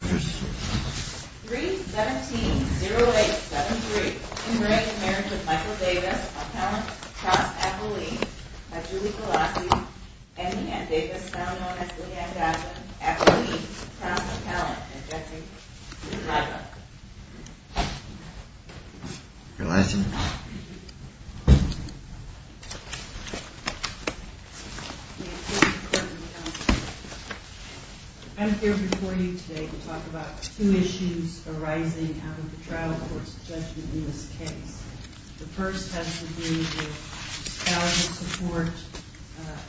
3-17-08-73 In marriage of Michael Davis, a talented cross-acolyte by Julie Galassi and Leanne Davis, now known as Leanne Galassi, acolyte, cross-talent, and objecting to divorce. Your license. I'm here before you today to talk about two issues arising out of the trial court's judgment in this case. The first has to do with discouragement support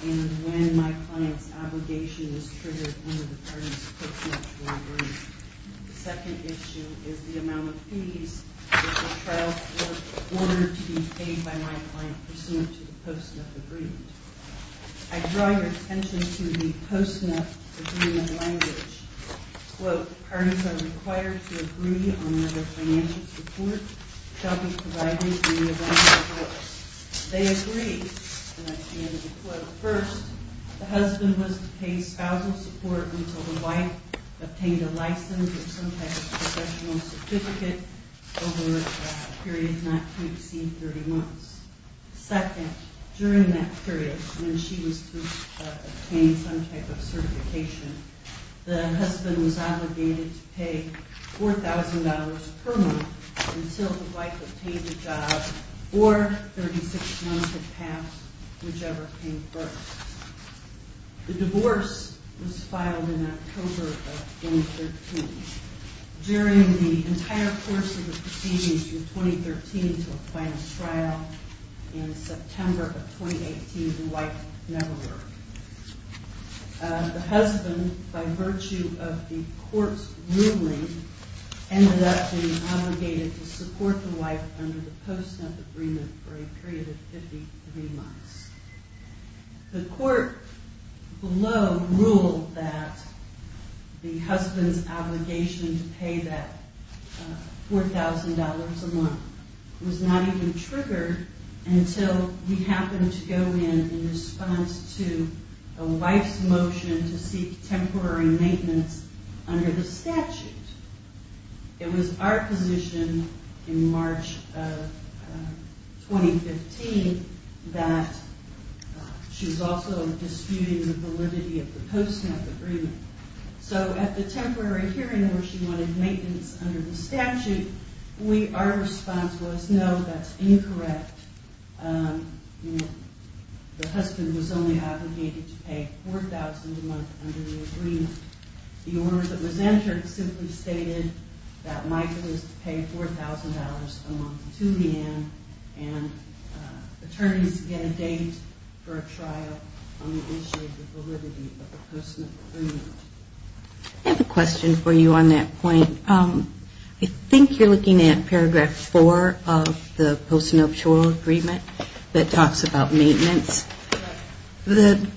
and when my client's obligation was triggered under the parties post-nup agreement. The second issue is the amount of fees that the trial court ordered to be paid by my client pursuant to the post-nup agreement. I draw your attention to the post-nup agreement language. Quote, parties are required to agree on whether financial support shall be provided in the event of divorce. They agree. First, the husband was to pay spousal support until the wife obtained a license or some type of professional certificate over a period not to exceed 30 months. Second, during that period when she was to obtain some type of certification, the husband was obligated to pay $4,000 per month until the wife obtained a job or 36 months had passed, whichever came first. The divorce was filed in October of 2013. During the entire course of the proceedings through 2013 to a client's trial in September of 2018, the wife never worked. The husband, by virtue of the court's ruling, ended up being obligated to support the wife under the post-nup agreement for a period of 53 months. The court below ruled that the husband's obligation to pay that $4,000 a month was not even triggered until he happened to go in in response to a wife's motion to seek temporary maintenance under the statute. It was our position in March of 2015 that she was also disputing the validity of the post-nup agreement. So at the temporary hearing where she wanted maintenance under the statute, our response was no, that's incorrect. The husband was only obligated to pay $4,000 a month under the agreement. The order that was entered simply stated that Michael is to pay $4,000 a month to the end and attorneys get a date for a trial on the issue of the validity of the post-nup agreement. I have a question for you on that point. I think you're looking at paragraph four of the post-nup agreement that talks about maintenance. The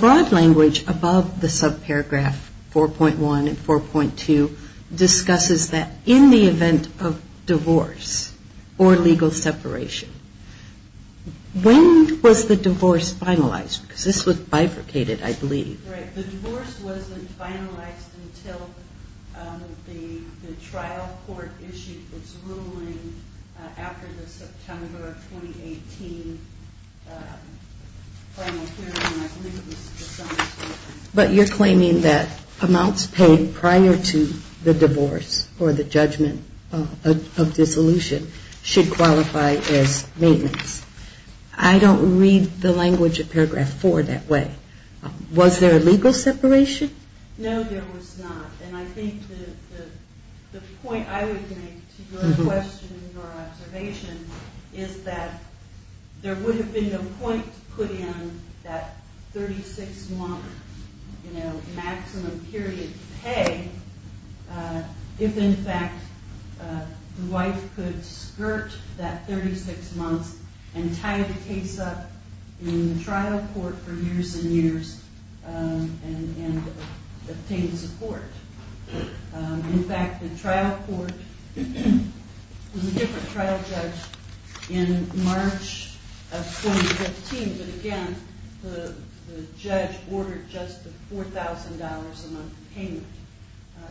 broad language above the subparagraph 4.1 and 4.2 discusses that in the event of divorce or legal separation, when was the divorce finalized? Because this was bifurcated, I believe. The divorce wasn't finalized until the trial court issued its ruling after the September of 2018 final hearing. But you're claiming that amounts paid prior to the divorce or the judgment of dissolution should qualify as maintenance. I don't read the language of paragraph four that way. Was there a legal separation? No, there was not. And I think the point I would make to your question or observation is that there would have been no point to put in that 36-month maximum period pay if, in fact, the wife could skirt that 36 months and tie the case up in the trial court for years and years and obtain support. In fact, the trial court was a different trial judge in March of 2015. But again, the judge ordered just the $4,000 a month payment.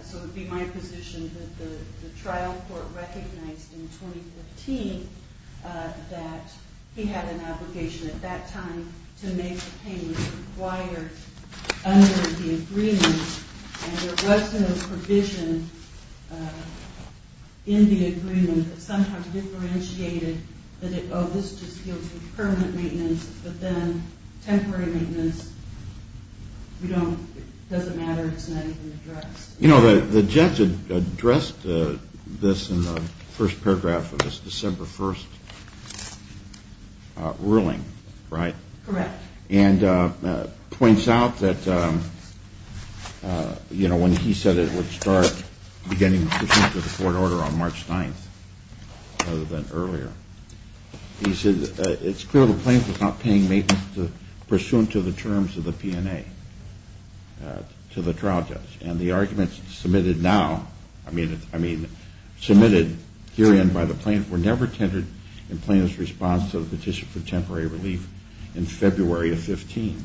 So it would be my position that the trial court recognized in 2015 that he had an obligation at that time to make the payment required under the agreement. And there wasn't a provision in the agreement that somehow differentiated that, oh, this just deals with permanent maintenance, but then temporary maintenance, it doesn't matter, it's not even addressed. You know, the judge addressed this in the first paragraph of this December 1st ruling, right? Correct. And points out that, you know, when he said it would start beginning the court order on March 9th rather than earlier, he said it's clear the plaintiff is not paying maintenance pursuant to the terms of the P&A, to the trial judge. And the arguments submitted now, I mean, submitted herein by the plaintiff were never tendered in plaintiff's response to the petition for temporary relief in February of 15th,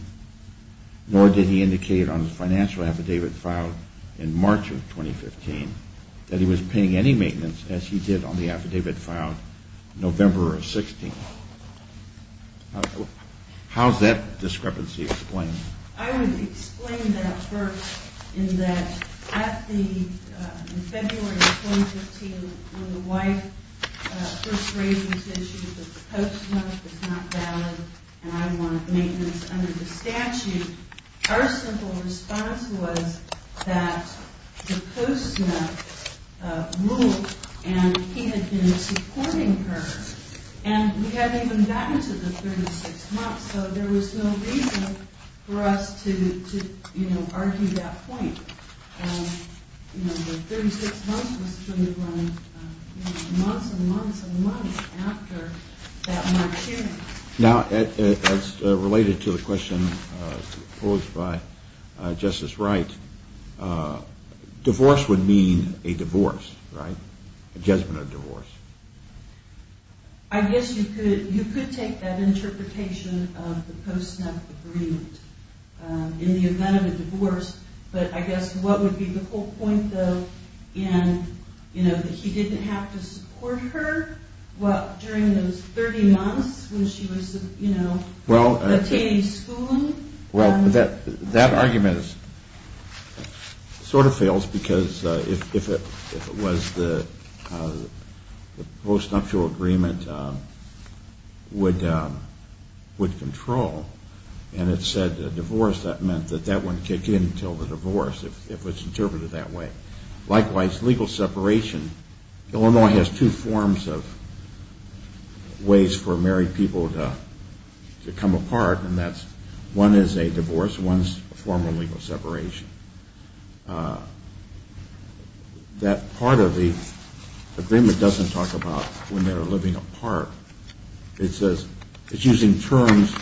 nor did he indicate on the financial affidavit filed in March of 2015 that he was paying any maintenance as he did on the affidavit filed November of 16th. How is that discrepancy explained? I would explain that first in that at the, in February of 2015, when the wife first raised this issue that the postmark was not valid and I want maintenance under the statute, our simple response was that the postmark ruled and he had been supporting her. And we hadn't even gotten to the 36 months, so there was no reason for us to, you know, argue that point. You know, the 36 months was truly running, you know, months and months and months after that March hearing. Now, as related to the question posed by Justice Wright, divorce would mean a divorce, right? A judgment of divorce. I guess you could take that interpretation of the postmark agreement in the event of a divorce, but I guess what would be the whole point, though, in, you know, that he didn't have to support her during those 30 months when she was, you know, attending school? Well, that argument sort of fails because if it was the postnuptial agreement would control and it said divorce, that meant that that wouldn't kick in until the divorce, if it's interpreted that way. Likewise, legal separation, Illinois has two forms of ways for married people to come apart and that's one is a divorce, one is a formal legal separation. That part of the agreement doesn't talk about when they're living apart. It says it's using terms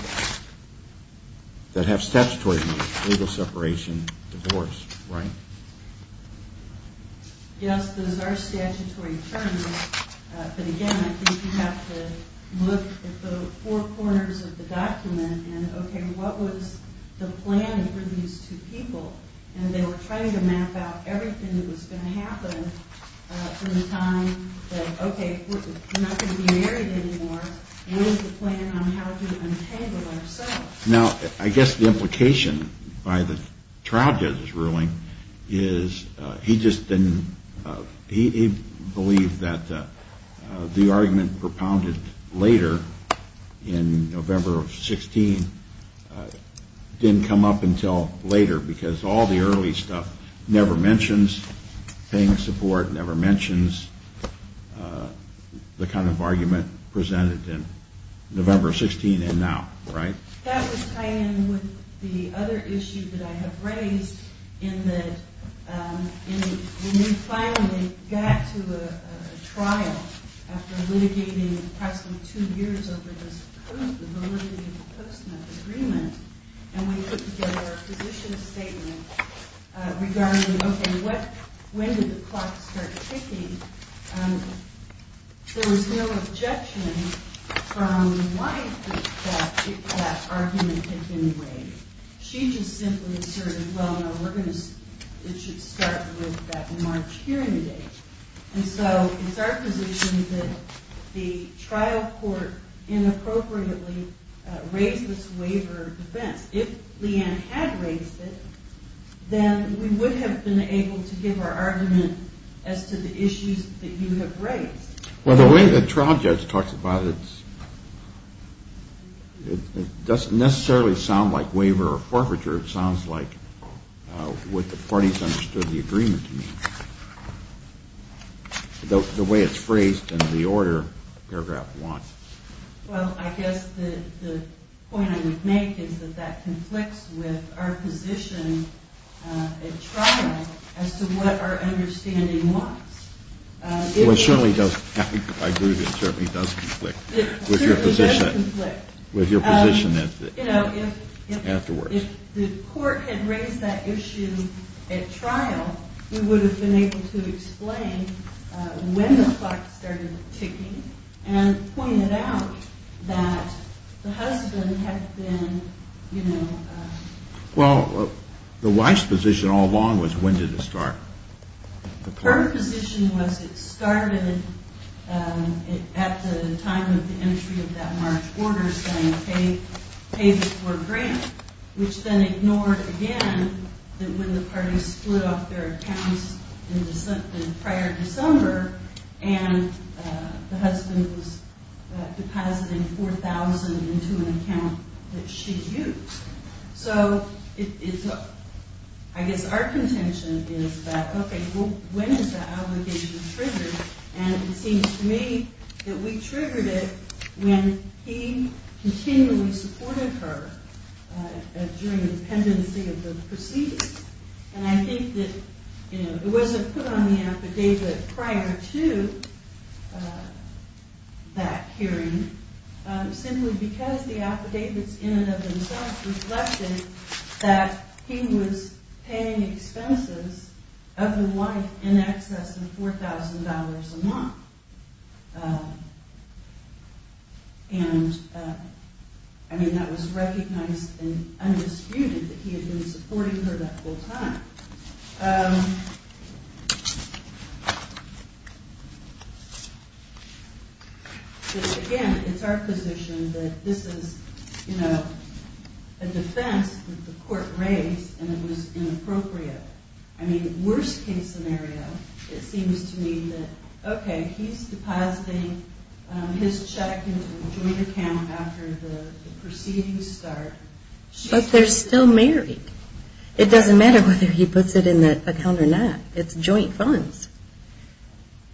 that have statutory meaning, legal separation, divorce, right? Yes, those are statutory terms, but again, I think you have to look at the four corners of the document and, okay, what was the plan for these two people? And they were trying to map out everything that was going to happen from the time that, okay, we're not going to be married anymore. Now, I guess the implication by the trial judge's ruling is he just didn't, he believed that the argument propounded later in November of 16 didn't come up until later because all the early stuff never mentions paying support, never mentions the kind of argument presented to him. That was tied in with the other issue that I have raised in that when we finally got to a trial after litigating approximately two years over this validity of the post-mortem agreement, and we put together a position statement regarding, okay, when did the clock start ticking? There was no objection from the wife that that argument had been raised. She just simply asserted, well, no, we're going to, it should start with that March hearing date. And so it's our position that the trial court inappropriately raised this waiver of defense. If Leanne had raised it, then we would have been able to give our argument as to the issues that you have raised. Well, the way the trial judge talks about it, it doesn't necessarily sound like waiver or forfeiture. It sounds like what the parties understood the agreement to mean, the way it's phrased in the order paragraph one. Well, I guess the point I would make is that that conflicts with our position at trial as to what our understanding was. Well, it certainly does. I agree with you. It certainly does conflict with your position afterwards. If the court had raised that issue at trial, we would have been able to explain when the clock started ticking and pointed out that the husband had been, you know. Well, the wife's position all along was when did it start? Her position was it started at the time of the entry of that March order saying pay before grant, which then ignored again that when the parties split off their accounts prior to December and the husband was depositing $4,000 into an account that she used. So, I guess our contention is that, okay, well, when is that obligation triggered? And it seems to me that we triggered it when he continually supported her during the pendency of the proceedings. And I think that, you know, it wasn't put on the affidavit prior to that hearing simply because the affidavits in and of themselves reflected that he was paying expenses of the wife in excess of $4,000 a month. And, I mean, that was recognized and undisputed that he had been supporting her that whole time. Again, it's our position that this is, you know, a defense that the court raised and it was inappropriate. I mean, worst case scenario, it seems to me that, okay, he's depositing his check into a joint account after the proceedings start. But they're still married. It doesn't matter whether he puts it in that account or not. It's joint funds.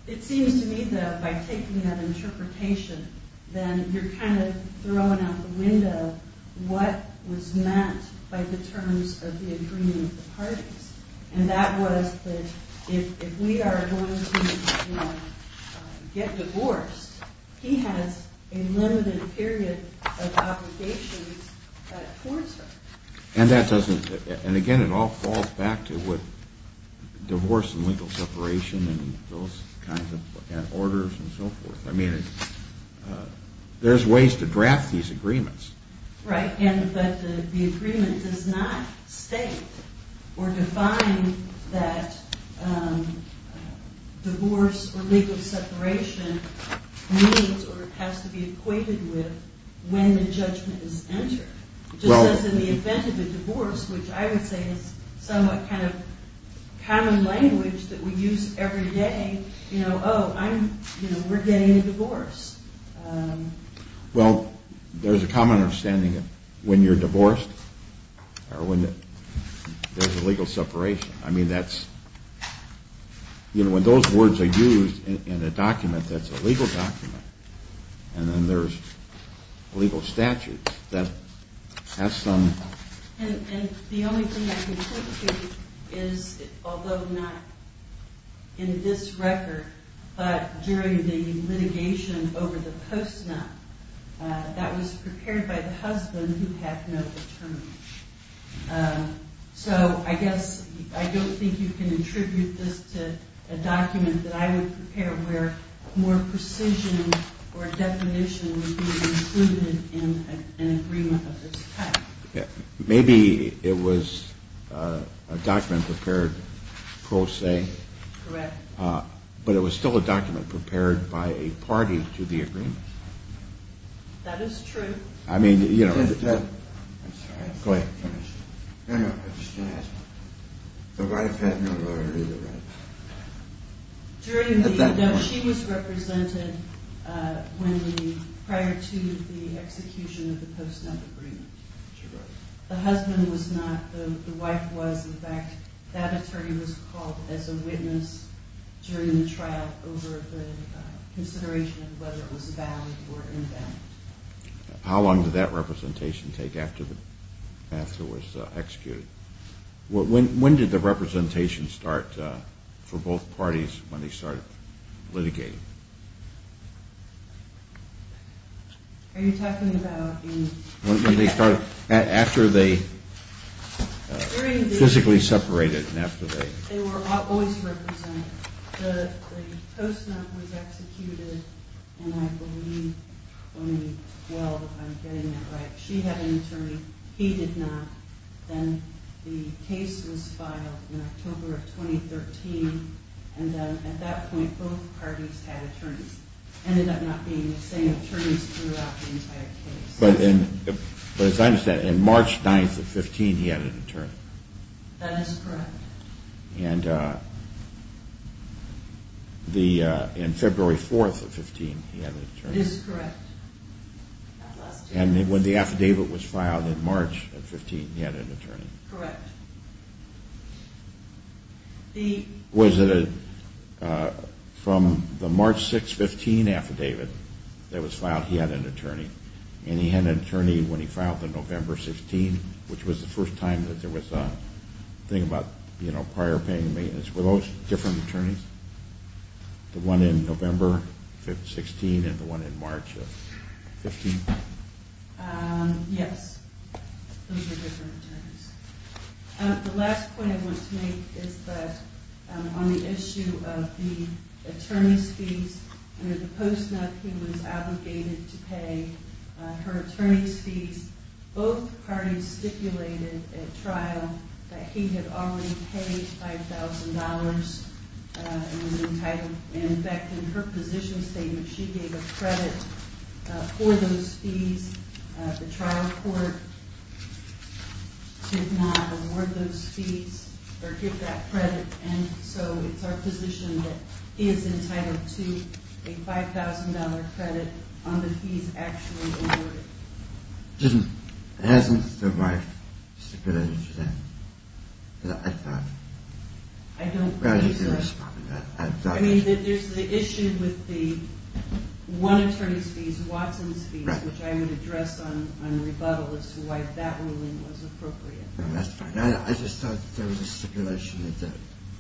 It seems to me that by taking that interpretation, then you're kind of throwing out the window what was meant by the terms of the agreement of the parties. And that was that if we are going to, you know, get divorced, he has a limited period of obligations towards her. And, again, it all falls back to divorce and legal separation and those kinds of orders and so forth. I mean, there's ways to draft these agreements. Right, but the agreement does not state or define that divorce or legal separation needs or has to be equated with when the judgment is entered. Just as in the event of a divorce, which I would say is somewhat kind of common language that we use every day, you know, oh, I'm, you know, we're getting a divorce. Well, there's a common understanding of when you're divorced or when there's a legal separation. I mean, that's, you know, when those words are used in a document that's a legal document and then there's legal statutes, that has some... And the only thing I can point to is, although not in this record, but during the litigation over the post-nup, that was prepared by the husband who had no determent. So I guess I don't think you can attribute this to a document that I would prepare where more precision or definition would be included in an agreement of this type. Maybe it was a document prepared pro se. Correct. But it was still a document prepared by a party to the agreement. That is true. I mean, you know... I'm sorry. Go ahead. No, no, I was just going to ask. The wife had no right to do the right thing. No, she was represented prior to the execution of the post-nup agreement. The husband was not. The wife was. In fact, that attorney was called as a witness during the trial over the consideration of whether it was valid or invalid. How long did that representation take after it was executed? When did the representation start for both parties when they started litigating? Are you talking about in... When did they start? After they physically separated and after they... They were always represented. The post-nup was executed in, I believe, 2012, if I'm getting that right. She had an attorney. He did not. Then the case was filed in October of 2013. And then at that point, both parties had attorneys. Ended up not being the same attorneys throughout the entire case. But as I understand it, on March 9th of 2015, he had an attorney. That is correct. And February 4th of 2015, he had an attorney. That is correct. And when the affidavit was filed in March of 2015, he had an attorney. Correct. Was it a... From the March 6, 2015 affidavit that was filed, he had an attorney. And he had an attorney when he filed the November 16th, which was the first time that there was a thing about prior paying maintenance. Were those different attorneys? The one in November 16th and the one in March of 15th? Yes. Those were different attorneys. The last point I want to make is that on the issue of the attorney's fees, under the post-nup, he was obligated to pay her attorney's fees. Both parties stipulated at trial that he had already paid $5,000 and was entitled. In fact, in her position statement, she gave a credit for those fees. The trial court did not award those fees or give that credit. And so it's our position that he is entitled to a $5,000 credit on the fees actually awarded. Hasn't the wife stipulated that? I thought... I don't think so. I mean, there's the issue with the one attorney's fees, Watson's fees, which I would address on rebuttal as to why that ruling was appropriate. I just thought there was a stipulation that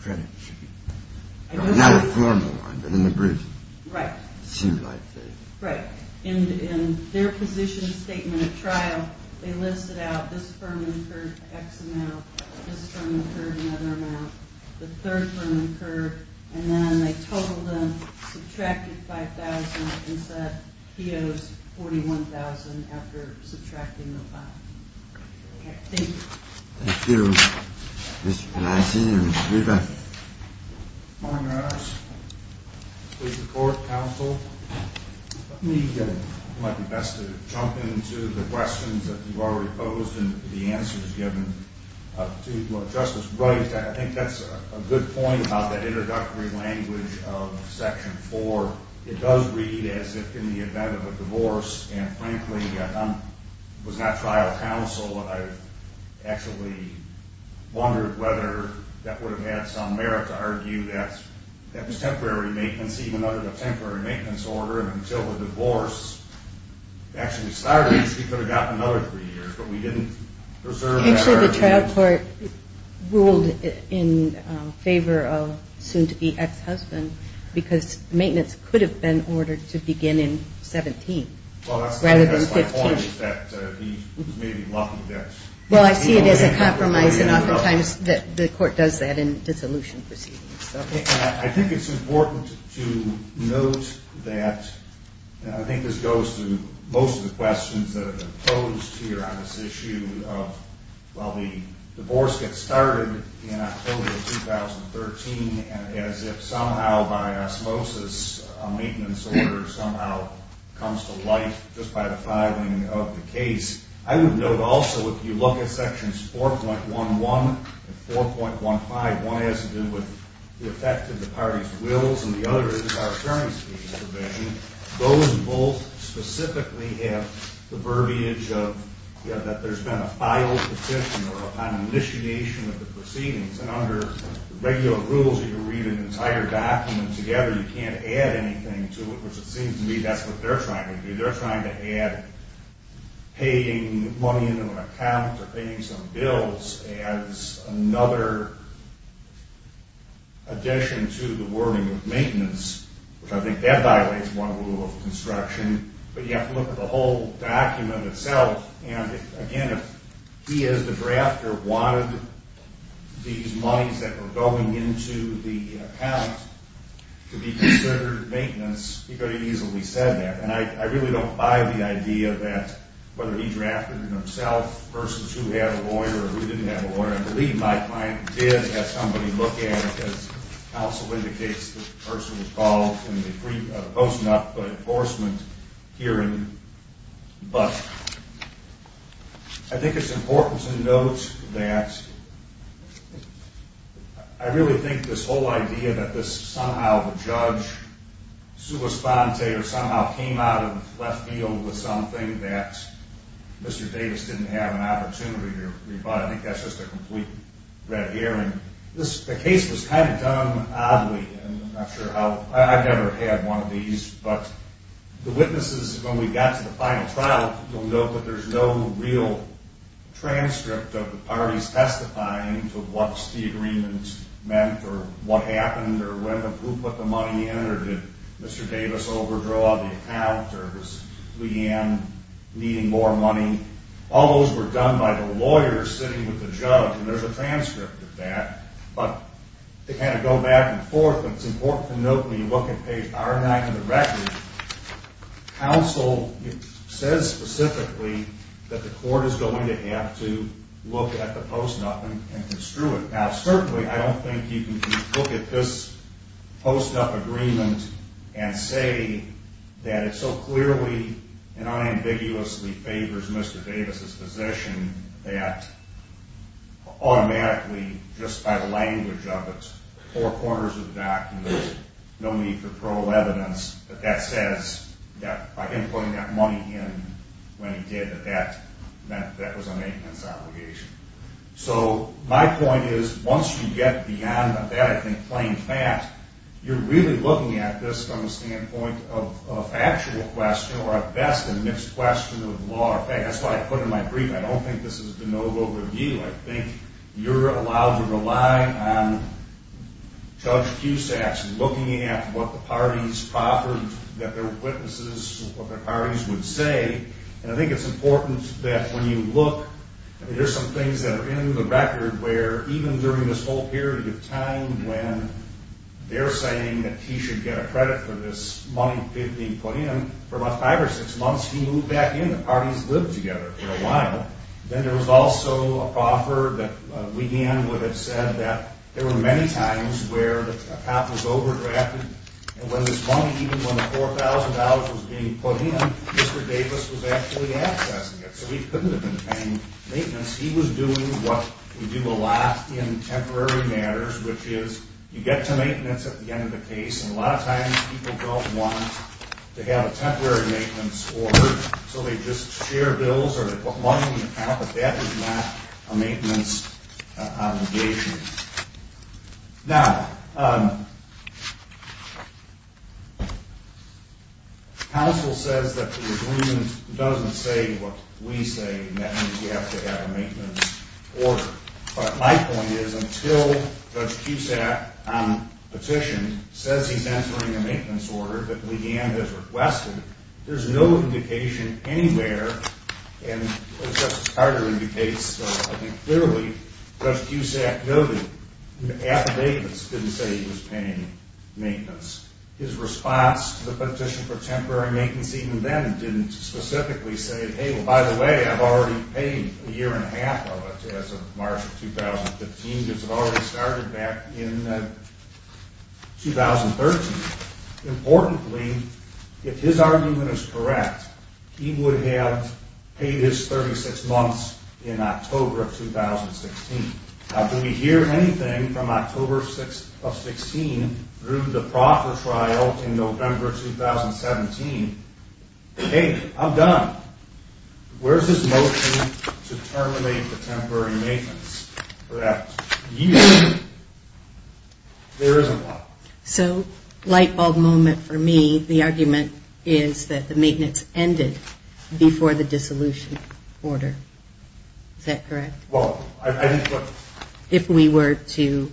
credit should be... Not a formal one, but in the brief. Right. It seemed like it. Right. In their position statement at trial, they listed out this firm incurred X amount, this firm incurred another amount, the third firm incurred, and then they totaled them, subtracted $5,000, and said he owes $41,000 after subtracting the $5,000. Okay. Thank you. Mr. Polansky and Ms. Riva. Good morning, Your Honors. Please report, counsel. Let me... It might be best to jump into the questions that you already posed and the answers given to Justice Wright. I think that's a good point about that introductory language of Section 4. It does read as if in the event of a divorce, and frankly I was not trial counsel and I actually wondered whether that would have had some merit to argue that that was temporary maintenance, even under the temporary maintenance order, and until the divorce actually started, she could have gotten another three years, but we didn't preserve that argument. I'm sure the trial court ruled in favor of soon-to-be ex-husband because maintenance could have been ordered to begin in 17th rather than 15th. Well, I see it as a compromise, and oftentimes the court does that in dissolution proceedings. I think it's important to note that, and I think this goes to most of the questions that have been posed here on this issue of, well, the divorce gets started in October 2013 as if somehow by osmosis a maintenance order somehow comes to life just by the filing of the case. I would note also if you look at Sections 4.11 and 4.15, one has to do with the effect of the parties' wills and the other is our attorneys' case provision. Those both specifically have the verbiage that there's been a filed petition or an initiation of the proceedings, and under regular rules you can read an entire document together. You can't add anything to it, which it seems to me that's what they're trying to do. They're trying to add paying money into an account or paying some bills as another addition to the wording of maintenance, which I think that violates one rule of construction. But you have to look at the whole document itself, and again, if he as the drafter wanted these monies that were going into the account to be considered maintenance, he could have easily said that. And I really don't buy the idea that whether he drafted it himself versus who had a lawyer or who didn't have a lawyer. I believe my client did have somebody look at it, as counsel indicates the person was called in the post-enough enforcement hearing. But I think it's important to note that I really think this whole idea that this somehow the judge sua sponte or somehow came out of left field with something that Mr. Davis didn't have an opportunity to rebut, I think that's just a complete red herring. The case was kind of done oddly, and I'm not sure how. I've never had one of these, but the witnesses, when we got to the final trial, will note that there's no real transcript of the parties testifying to what the agreement meant or what happened or who put the money in or did Mr. Davis overdraw the account or was Leanne needing more money. All those were done by the lawyer sitting with the judge, and there's a transcript of that. But to kind of go back and forth, it's important to note when you look at page R9 of the record, counsel says specifically that the court is going to have to look at the post-up and construe it. Now, certainly I don't think you can look at this post-up agreement and say that it so clearly and unambiguously favors Mr. Davis's position that automatically just by the language of it, four quarters of the document, no need for parole evidence, but that says that by him putting that money in when he did, that that was a maintenance obligation. So my point is once you get beyond that, I think plain fat, you're really looking at this from the standpoint of a factual question or at best a mixed question of law or fact. That's why I put in my brief, I don't think this is a de novo review. I think you're allowed to rely on Judge Cusack's looking at what the parties proffered that their witnesses or their parties would say. And I think it's important that when you look, there's some things that are in the record where even during this whole period of time when they're saying that he should get a credit for this money being put in, for about five or six months he moved back in. The parties lived together for a while. Then there was also a proffer that began with it said that there were many times where the account was overdrafted and when this money, even when the $4,000 was being put in, Mr. Davis was actually accessing it. So he couldn't have been paying maintenance. He was doing what we do a lot in temporary matters, which is you get to maintenance at the end of the case, and a lot of times people don't want to have a temporary maintenance order, so they just share bills or they put money in the account, but that is not a maintenance obligation. Now, counsel says that the agreement doesn't say what we say, and that means you have to have a maintenance order. But my point is until Judge Cusack on petition says he's entering a maintenance order that Leigh Ann has requested, there's no indication anywhere, and as Justice Carter indicates, I think clearly, Judge Cusack noted in the affidavits didn't say he was paying maintenance. His response to the petition for temporary maintenance even then didn't specifically say, hey, well, by the way, I've already paid a year and a half of it as of March of 2015 because it already started back in 2013. Importantly, if his argument is correct, he would have paid his 36 months in October of 2016. Now, do we hear anything from October of 2016 through the proffer trial in November of 2017? Hey, I'm done. Where's his motion to terminate the temporary maintenance for that year? There isn't one. So light bulb moment for me. The argument is that the maintenance ended before the dissolution order. Is that correct? If we were to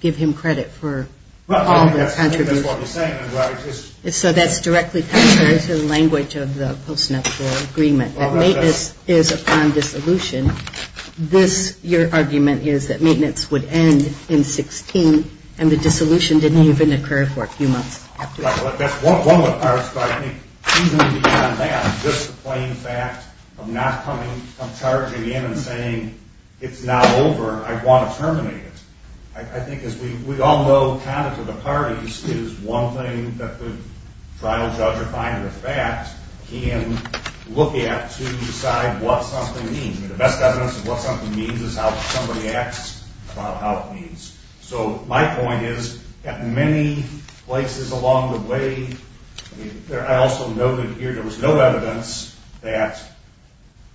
give him credit for all the contributions. I think that's what he's saying. So that's directly contrary to the language of the Post-Nuptial Agreement, that maintenance is upon dissolution. This, your argument, is that maintenance would end in 16 and the dissolution didn't even occur for a few months after that. That's one of the parts, but I think even beyond that, just the plain fact of not coming from charging in and saying it's not over, I want to terminate it. I think as we all know, kind of to the parties, is one thing that the trial judge or final defense can look at to decide what something means. The best evidence of what something means is how somebody acts about how it means. So my point is, at many places along the way, I also noted here there was no evidence that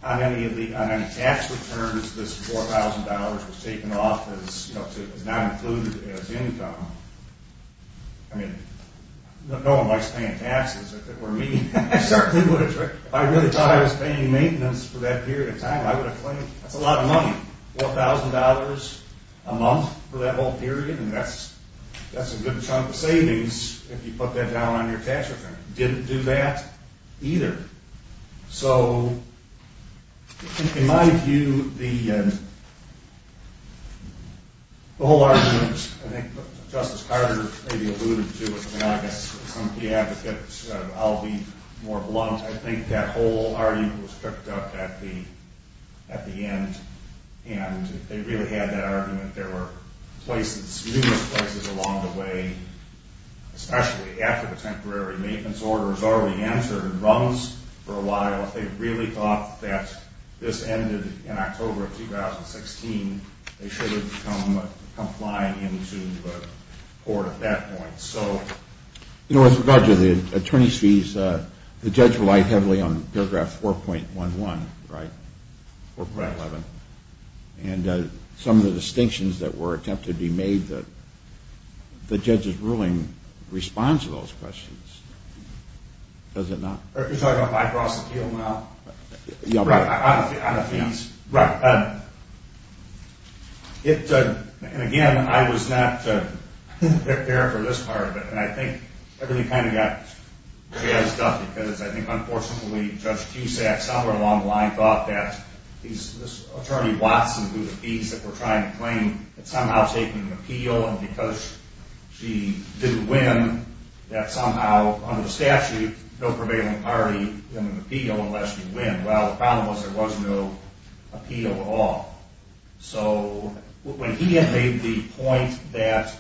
on any tax returns, this $4,000 was taken off as not included as income. I mean, no one likes paying taxes. If it were me, I certainly would have. If I really thought I was paying maintenance for that period of time, I would have claimed that's a lot of money, $4,000 a month for that whole period, and that's a good chunk of savings if you put that down on your tax return. Didn't do that either. So in my view, the whole argument, I think Justice Carter maybe alluded to it, and I guess some of the advocates, I'll be more blunt, I think that whole argument was cooked up at the end, and they really had that argument. There were numerous places along the way, especially after the temporary maintenance order was already entered, and runs for a while, if they really thought that this ended in October of 2016, they should have complied into the court at that point. You know, with regard to the attorney's fees, the judge relied heavily on paragraph 4.11, right? 4.11. And some of the distinctions that were attempted to be made, the judge's ruling responds to those questions. Does it not? You're talking about my gross appeal amount? Yeah. On the fees. Right. And again, I was not there for this part of it, and I think everything kind of got jazzed up, because I think, unfortunately, Judge Cusack, somewhere along the line, thought that this attorney Watson, who was appeased, that we're trying to claim had somehow taken an appeal, and because she didn't win, that somehow, under the statute, no prevailing party in an appeal unless you win. Well, the problem was there was no appeal at all. So when he had made the point that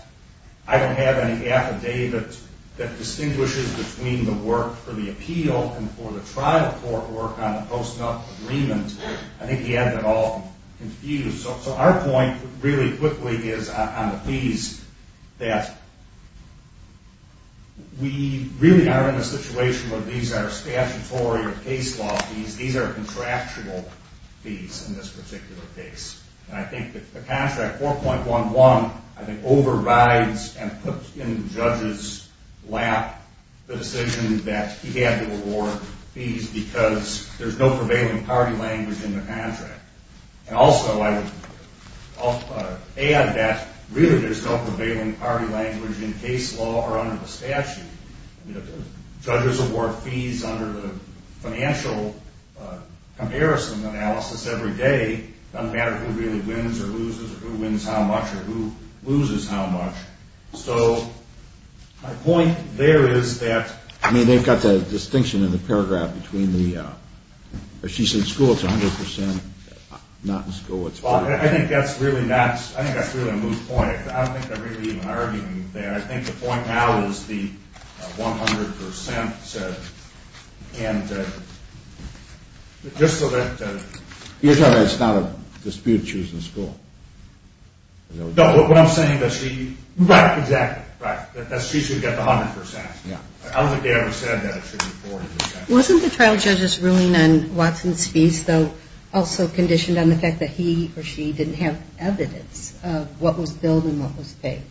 I don't have any affidavit that distinguishes between the work for the appeal and for the trial court work on the Post-Nup agreement, I think he had it all confused. So our point, really quickly, is on the fees, that we really are in a situation where these are statutory or case law fees. These are contractual fees in this particular case. And I think the contract 4.11, I think, overrides and puts in the judge's lap the decision that he had to award fees because there's no prevailing party language in the contract. And also, I would add that really there's no prevailing party language in case law or under the statute. Judges award fees under the financial comparison analysis every day. It doesn't matter who really wins or loses or who wins how much or who loses how much. So my point there is that they've got the distinction in the paragraph between the, as she said, school is 100% not in school. I think that's really a moot point. I don't think they're really even arguing there. I think the point now is the 100% said. And just so that… You're telling us it's not a dispute choosing school? No, what I'm saying is she… Right, exactly. Right, that she should get the 100%. Yeah. I don't think they ever said that it should be 40%. Wasn't the trial judge's ruling on Watson's fees, though, also conditioned on the fact that he or she didn't have evidence of what was billed and what was paid?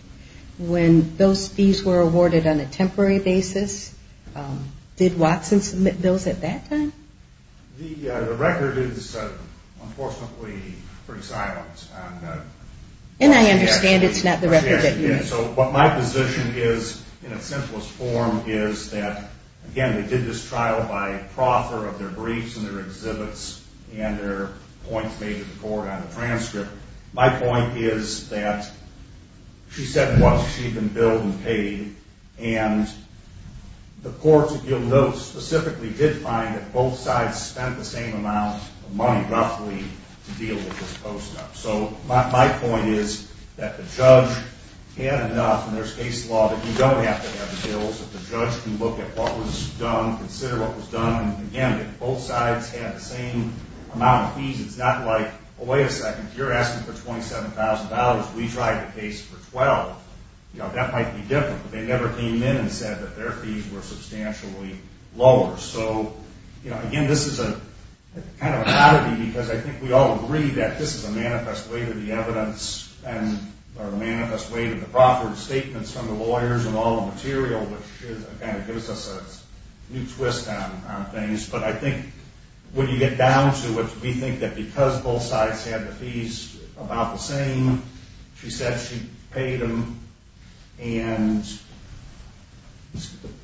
When those fees were awarded on a temporary basis, did Watson submit bills at that time? The record is unfortunately pretty silent. And I understand it's not the record that you… So what my position is in its simplest form is that, again, they did this trial by proffer of their briefs and their exhibits and their points made to the court on the transcript. My point is that she said what she had been billed and paid, and the court, if you'll note, specifically did find that both sides spent the same amount of money, roughly, to deal with this post-up. So my point is that the judge had enough, and there's case law, that you don't have to have bills, that the judge can look at what was done, consider what was done, and, again, that both sides had the same amount of fees. It's not like, oh, wait a second, you're asking for $27,000, we tried the case for $12,000. That might be different, but they never came in and said that their fees were substantially lower. So, again, this is kind of an oddity because I think we all agree that this is a manifest way to the evidence or a manifest way to the proffered statements from the lawyers and all the material, which kind of gives us a new twist on things. But I think when you get down to it, we think that because both sides had the fees about the same, she said she paid them, and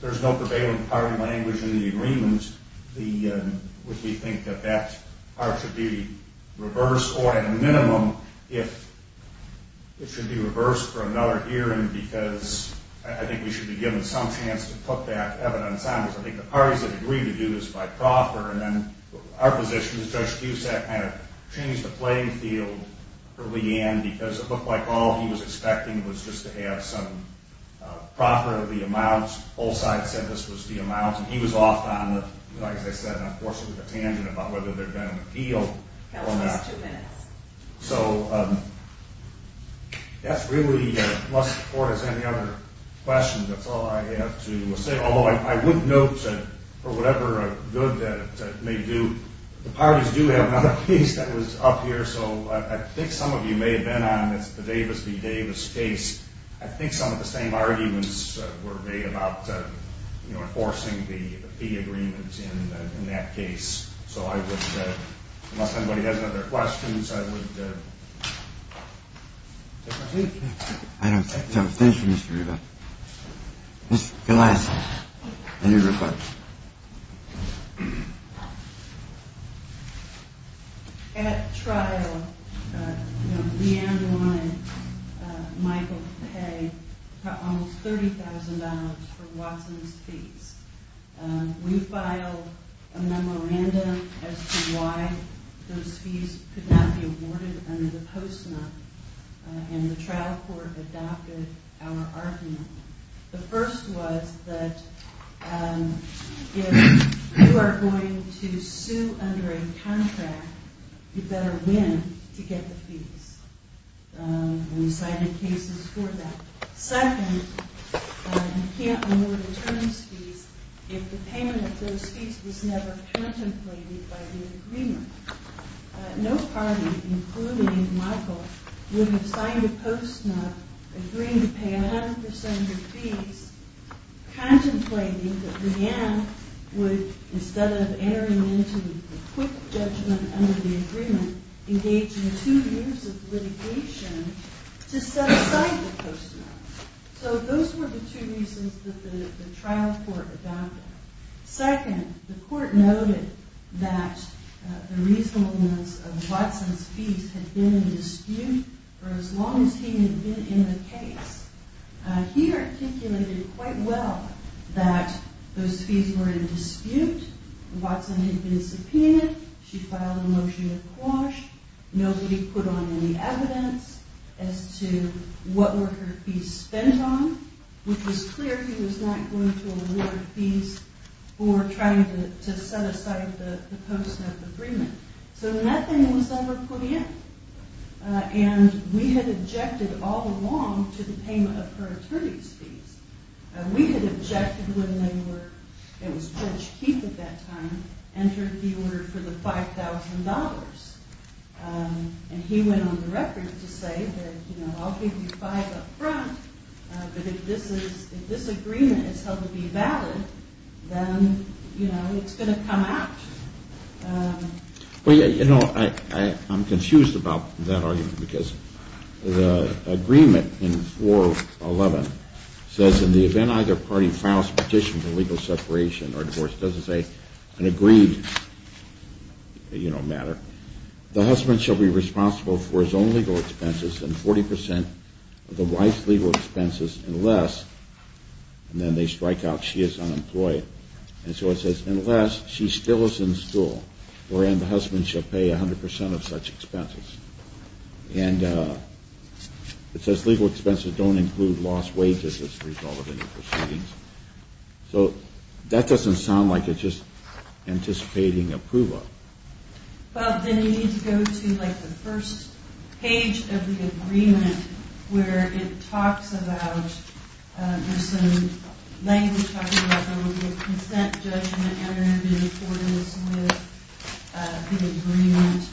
there's no prevailing party language in the agreement, we think that that part should be reversed, or at a minimum, it should be reversed for another hearing because I think we should be given some chance to put that evidence on, because I think the parties that agreed to do this by proffer, and then our position is Judge Cusack kind of changed the playing field early on because it looked like all he was expecting was just to have some proffer, the amount, both sides said this was the amount, and he was off on it, like I said, and, of course, with a tangent about whether they're going to appeal or not. That was just two minutes. So that's really as much support as any other question. That's all I have to say. Although I would note that for whatever good that may do, the parties do have another case that was up here, so I think some of you may have been on the Davis v. Davis case. I think some of the same arguments were made about enforcing the fee agreements in that case. So I would, unless anybody has any other questions, I would take my leave. I don't think so. Thank you, Mr. Rubin. Ms. Gillespie. Any other questions? At trial, Leanne wanted Michael to pay almost $30,000 for Watson's fees. We filed a memorandum as to why those fees could not be awarded under the postmark, and the trial court adopted our argument. The first was that if you are going to sue under a contract, you'd better win to get the fees. We cited cases for that. Second, you can't award attorneys' fees if the payment of those fees was never contemplated by the agreement. No party, including Michael, would have signed a postmark agreeing to pay 100% of your fees, contemplating that Leanne would, instead of entering into a quick judgment under the agreement, engage in two years of litigation to set aside the postmark. So those were the two reasons that the trial court adopted. Second, the court noted that the reasonableness of Watson's fees had been in dispute for as long as he had been in the case. He articulated quite well that those fees were in dispute. Watson had been subpoenaed. She filed a motion of quash. Nobody put on any evidence as to what were her fees spent on, which was clear he was not going to award fees for trying to set aside the postmark agreement. So nothing was ever put in. And we had objected all along to the payment of her attorney's fees. We had objected when Judge Keith, at that time, entered the order for the $5,000. And he went on the record to say that, you know, I'll give you $5,000 up front, but if this agreement is held to be valid, then, you know, it's going to come out. Well, you know, I'm confused about that argument because the agreement in 411 says, in the event either party files a petition for legal separation or divorce, doesn't say an agreed, you know, matter, the husband shall be responsible for his own legal expenses and 40% of the wife's legal expenses unless, and then they strike out, she is unemployed. And so it says, unless she still is in school, wherein the husband shall pay 100% of such expenses. And it says legal expenses don't include lost wages as a result of any proceedings. So that doesn't sound like it's just anticipating approval. Well, then you need to go to, like, the first page of the agreement where it talks about, there's some language talking about the consent judgment, and there have been accordance with the agreement.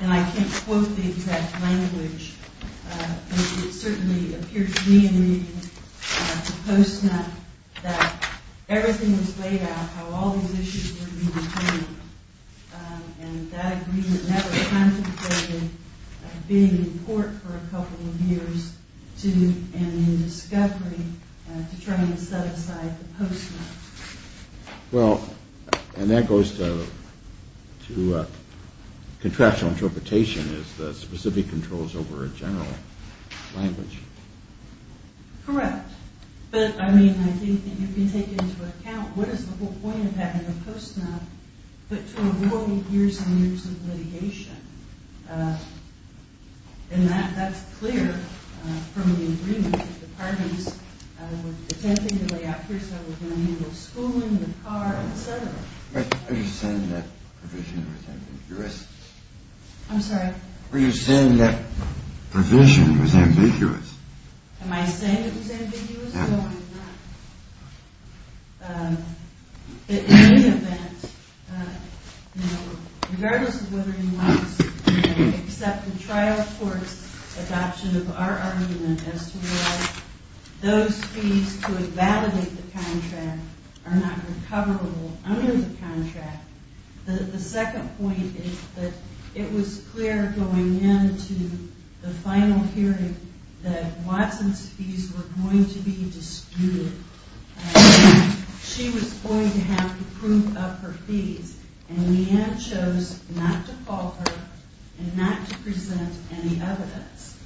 And I can't quote the exact language. It certainly appears to me in the post-nut that everything was laid out how all these issues were to be retained. And that agreement never contemplated being in court for a couple of years to, and in discovery to try and set aside the post-nut. Well, and that goes to contractual interpretation as the specific controls over a general language. Correct. But, I mean, I think that you can take into account what is the whole point of having a post-nut, but to avoid years and years of litigation. And that's clear from the agreement that the parties were attempting to lay out here so we can handle schooling, the car, et cetera. Are you saying that provision was ambiguous? Were you saying that provision was ambiguous? Am I saying it was ambiguous? No, I'm not. But in any event, you know, regardless of whether anyone wants to accept the trial court's adoption of our argument as to whether those fees to evaluate the contract are not recoverable under the contract, the second point is that it was clear going into the final hearing that Watson's fees were going to be disputed. She was going to have to prove up her fees. And Leanne chose not to call her and not to present any evidence.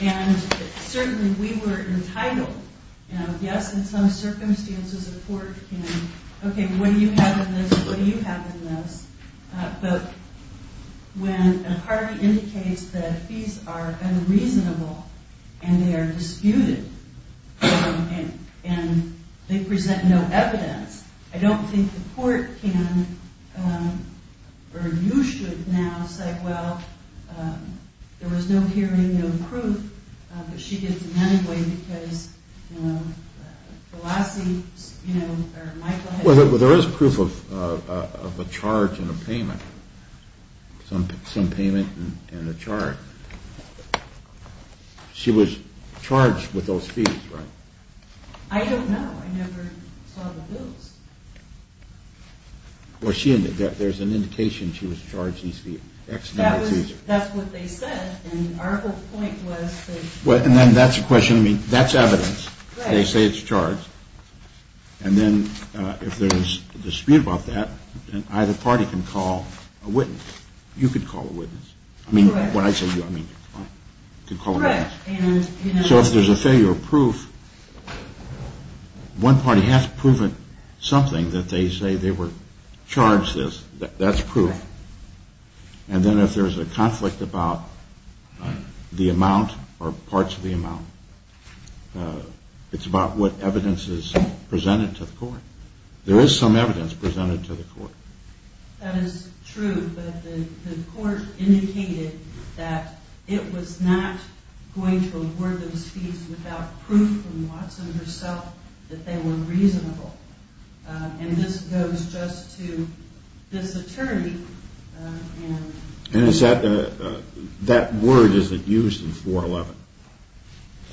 And certainly we were entitled, you know, yes, in some circumstances a court can, okay, what do you have in this? What do you have in this? But when a party indicates that fees are unreasonable and they are disputed and they present no evidence, I don't think the court can or you should now say, well, there was no hearing, no proof, but she did it anyway because, you know, Velassi, you know, or Michael had... Well, there is proof of a charge and a payment, some payment and a charge. She was charged with those fees, right? I don't know. I never saw the bills. Well, there's an indication she was charged. That's what they said. And then that's a question, I mean, that's evidence. They say it's charged. And then if there's a dispute about that, then either party can call a witness. You could call a witness. I mean, when I say you, I mean you could call a witness. So if there's a failure of proof, one party has to prove something that they say they were charged this. That's proof. And then if there's a conflict about the amount or parts of the amount, it's about what evidence is presented to the court. There is some evidence presented to the court. That is true, but the court indicated that it was not going to award those fees without proof from Watson herself that they were reasonable. And this goes just to this attorney. And is that word, is it used in 411?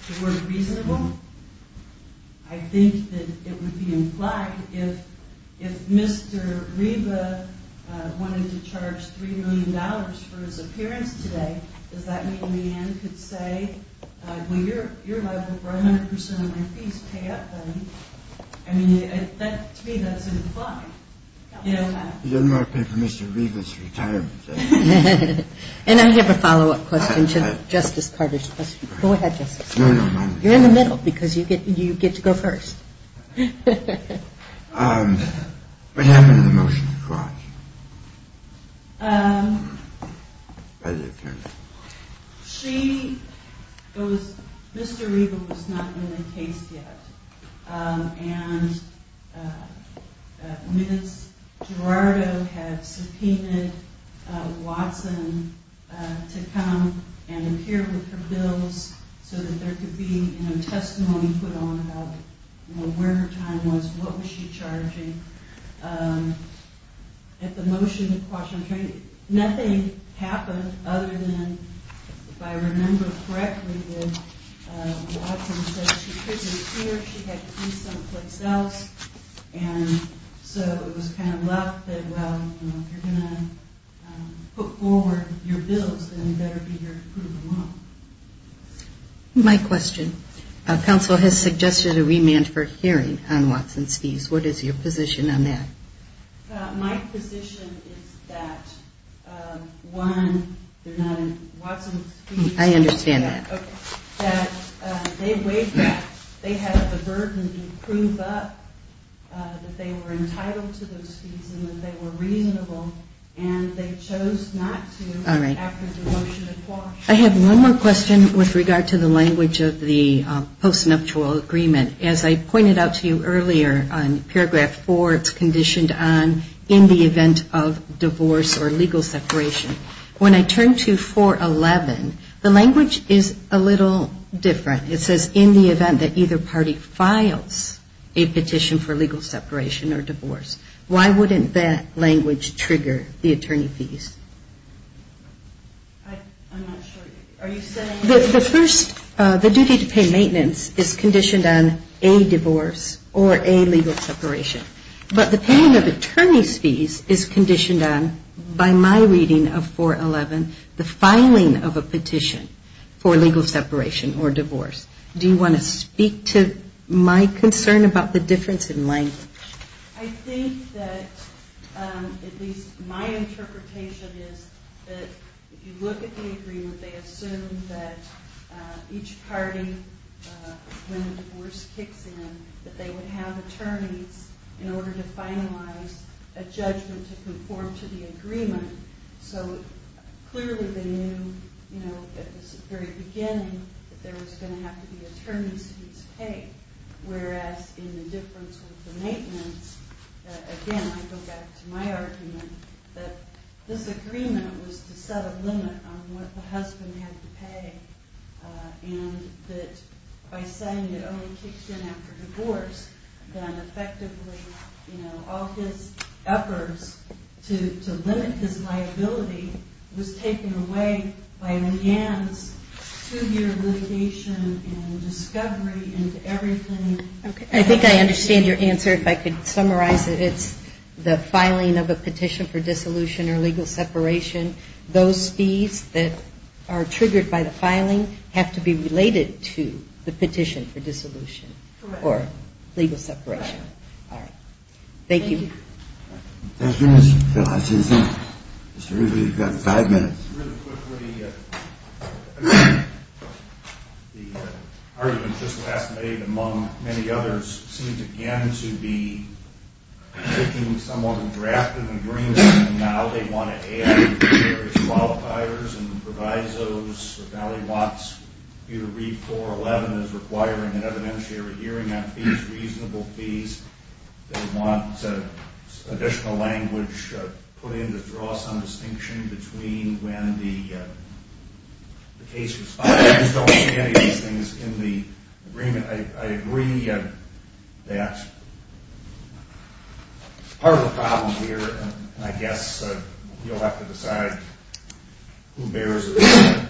The word reasonable? I think that it would be implied if Mr. Reba wanted to charge $3 million for his appearance today, does that mean Leanne could say, well, you're liable for 100% of my fees. Pay up, buddy. I mean, to me, that's implied. He doesn't want to pay for Mr. Reba's retirement. And I have a follow-up question to Justice Carter's question. Go ahead, Justice. No, no, no. You're in the middle because you get to go first. What happened to the motion to charge? Um, she, it was, Mr. Reba was not in the case yet. And Ms. Gerardo had subpoenaed Watson to come and appear with her bills so that there could be, you know, testimony put on where her time was, what was she charging. At the motion, nothing happened other than, if I remember correctly, that Watson said she couldn't appear, she had to be someplace else. And so it was kind of left that, well, you're going to put forward your bills, then you better be here to prove them wrong. My question. Counsel has suggested a remand for hearing on Watson's fees. What is your position on that? My position is that, one, they're not in Watson's fees. I understand that. Okay. That they weighed that. They had the burden to prove up that they were entitled to those fees and that they were reasonable. And they chose not to after the motion had passed. I have one more question with regard to the language of the post-nuptial agreement. As I pointed out to you earlier on paragraph 4, it's conditioned on in the event of divorce or legal separation. When I turn to 411, the language is a little different. It says in the event that either party files a petition for legal separation or divorce. Why wouldn't that language trigger the attorney fees? I'm not sure. Are you saying? The first, the duty to pay maintenance is conditioned on a divorce or a legal separation. But the paying of attorney's fees is conditioned on, by my reading of 411, the filing of a petition for legal separation or divorce. Do you want to speak to my concern about the difference in language? I think that, at least my interpretation is that if you look at the agreement, they assume that each party, when a divorce kicks in, that they would have attorneys in order to finalize a judgment to conform to the agreement. So clearly they knew, you know, at the very beginning that there was going to have to be attorney's fees paid. Whereas in the difference with the maintenance, again I go back to my argument, that this agreement was to set a limit on what the husband had to pay. And that by saying it only kicks in after divorce, then effectively, you know, all his efforts to limit his liability was taken away by an enhanced two-year litigation and discovery into everything. I think I understand your answer. If I could summarize it, it's the filing of a petition for dissolution or legal separation. Those fees that are triggered by the filing have to be related to the petition for dissolution or legal separation. Correct. All right. Thank you. Thank you. Mr. Rubio, you've got five minutes. Really quickly, the argument just last night among many others seems again to be taking someone who drafted an agreement and now they want to add various qualifiers and provisos. Now he wants you to read 411 as requiring an evidentiary hearing on fees, reasonable fees. They want additional language put in to draw some distinction between when the case was filed. I just don't see any of these things in the agreement. I agree that part of the problem here, I guess, you'll have to decide who bears the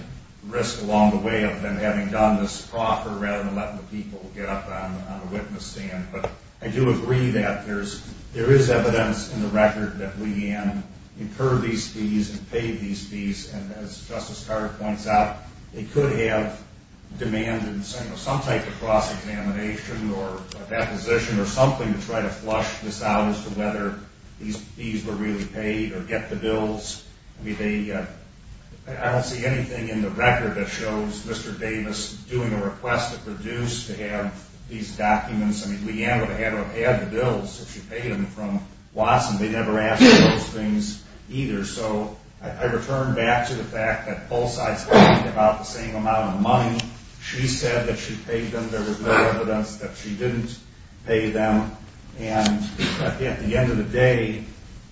risk along the way of them having done this proper rather than letting the people get up on a witness stand. But I do agree that there is evidence in the record that Lee Ann incurred these fees and paid these fees. And as Justice Carter points out, it could have demanded some type of cross-examination or deposition or something to try to flush this out as to whether these fees were really paid or get the bills. I don't see anything in the record that shows Mr. Davis doing a request to produce to have these documents. I mean, Lee Ann would have had the bills if she paid them from Watson. They never asked for those things either. So I return back to the fact that both sides had about the same amount of money. She said that she paid them. There was no evidence that she didn't pay them. And at the end of the day,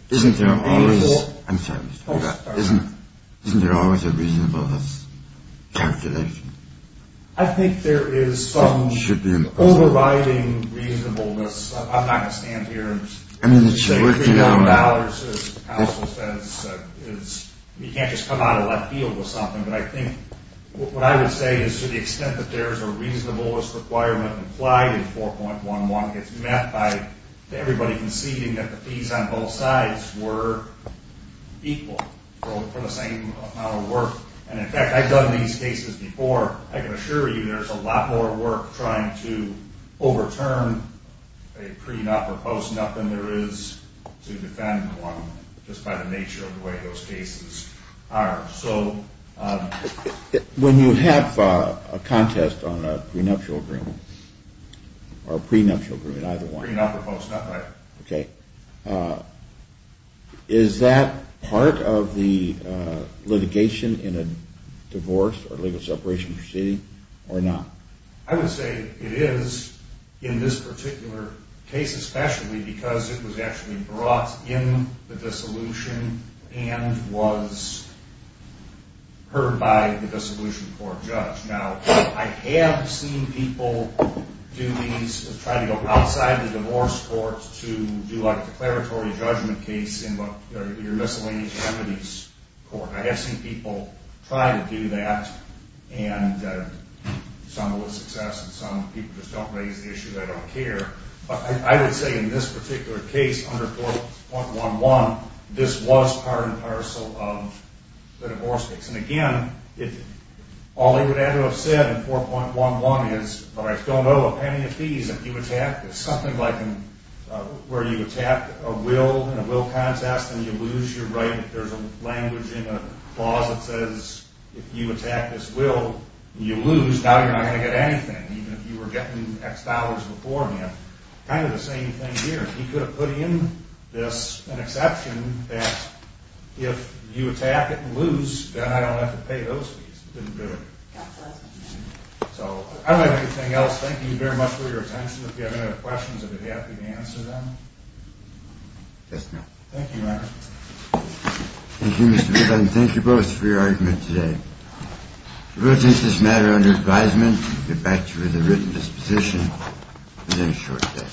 isn't there always a reasonable calculation? I think there is some overriding reasonableness. I'm not going to stand here and say $31, as counsel says. You can't just come out of left field with something. But I think what I would say is to the extent that there is a reasonableness requirement implied in 4.11, it's met by everybody conceding that the fees on both sides were equal for the same amount of work. And, in fact, I've done these cases before. I can assure you there's a lot more work trying to overturn a pre-nup or post-nup than there is to defend one just by the nature of the way those cases are. So when you have a contest on a prenuptial agreement or a prenuptial agreement, either one. Pre-nup or post-nup, right. Okay. Is that part of the litigation in a divorce or legal separation proceeding or not? I would say it is in this particular case especially because it was actually brought in the dissolution and was heard by the dissolution court judge. Now, I have seen people do these, try to go outside the divorce court to do a declaratory judgment case in your miscellaneous remedies court. I have seen people try to do that and some with success and some people just don't raise the issue. They don't care. But I would say in this particular case under 4.11, this was part and parcel of the divorce case. And again, all they would have to have said in 4.11 is, but I still owe a penny of fees if you attack this. Something like where you attack a will in a will contest and you lose your right. There is a language in the clause that says if you attack this will and you lose, now you are not going to get anything even if you were getting X dollars before him. Kind of the same thing here. He could have put in this an exception that if you attack it and lose, then I don't have to pay those fees. It didn't do it. So, I don't have anything else. Thank you very much for your attention. If you have any other questions, I would be happy to answer them. Yes, ma'am. Thank you, Your Honor. Thank you, Mr. Biddle. And thank you both for your argument today. We will take this matter under advisement and get back to you with a written disposition within a short day.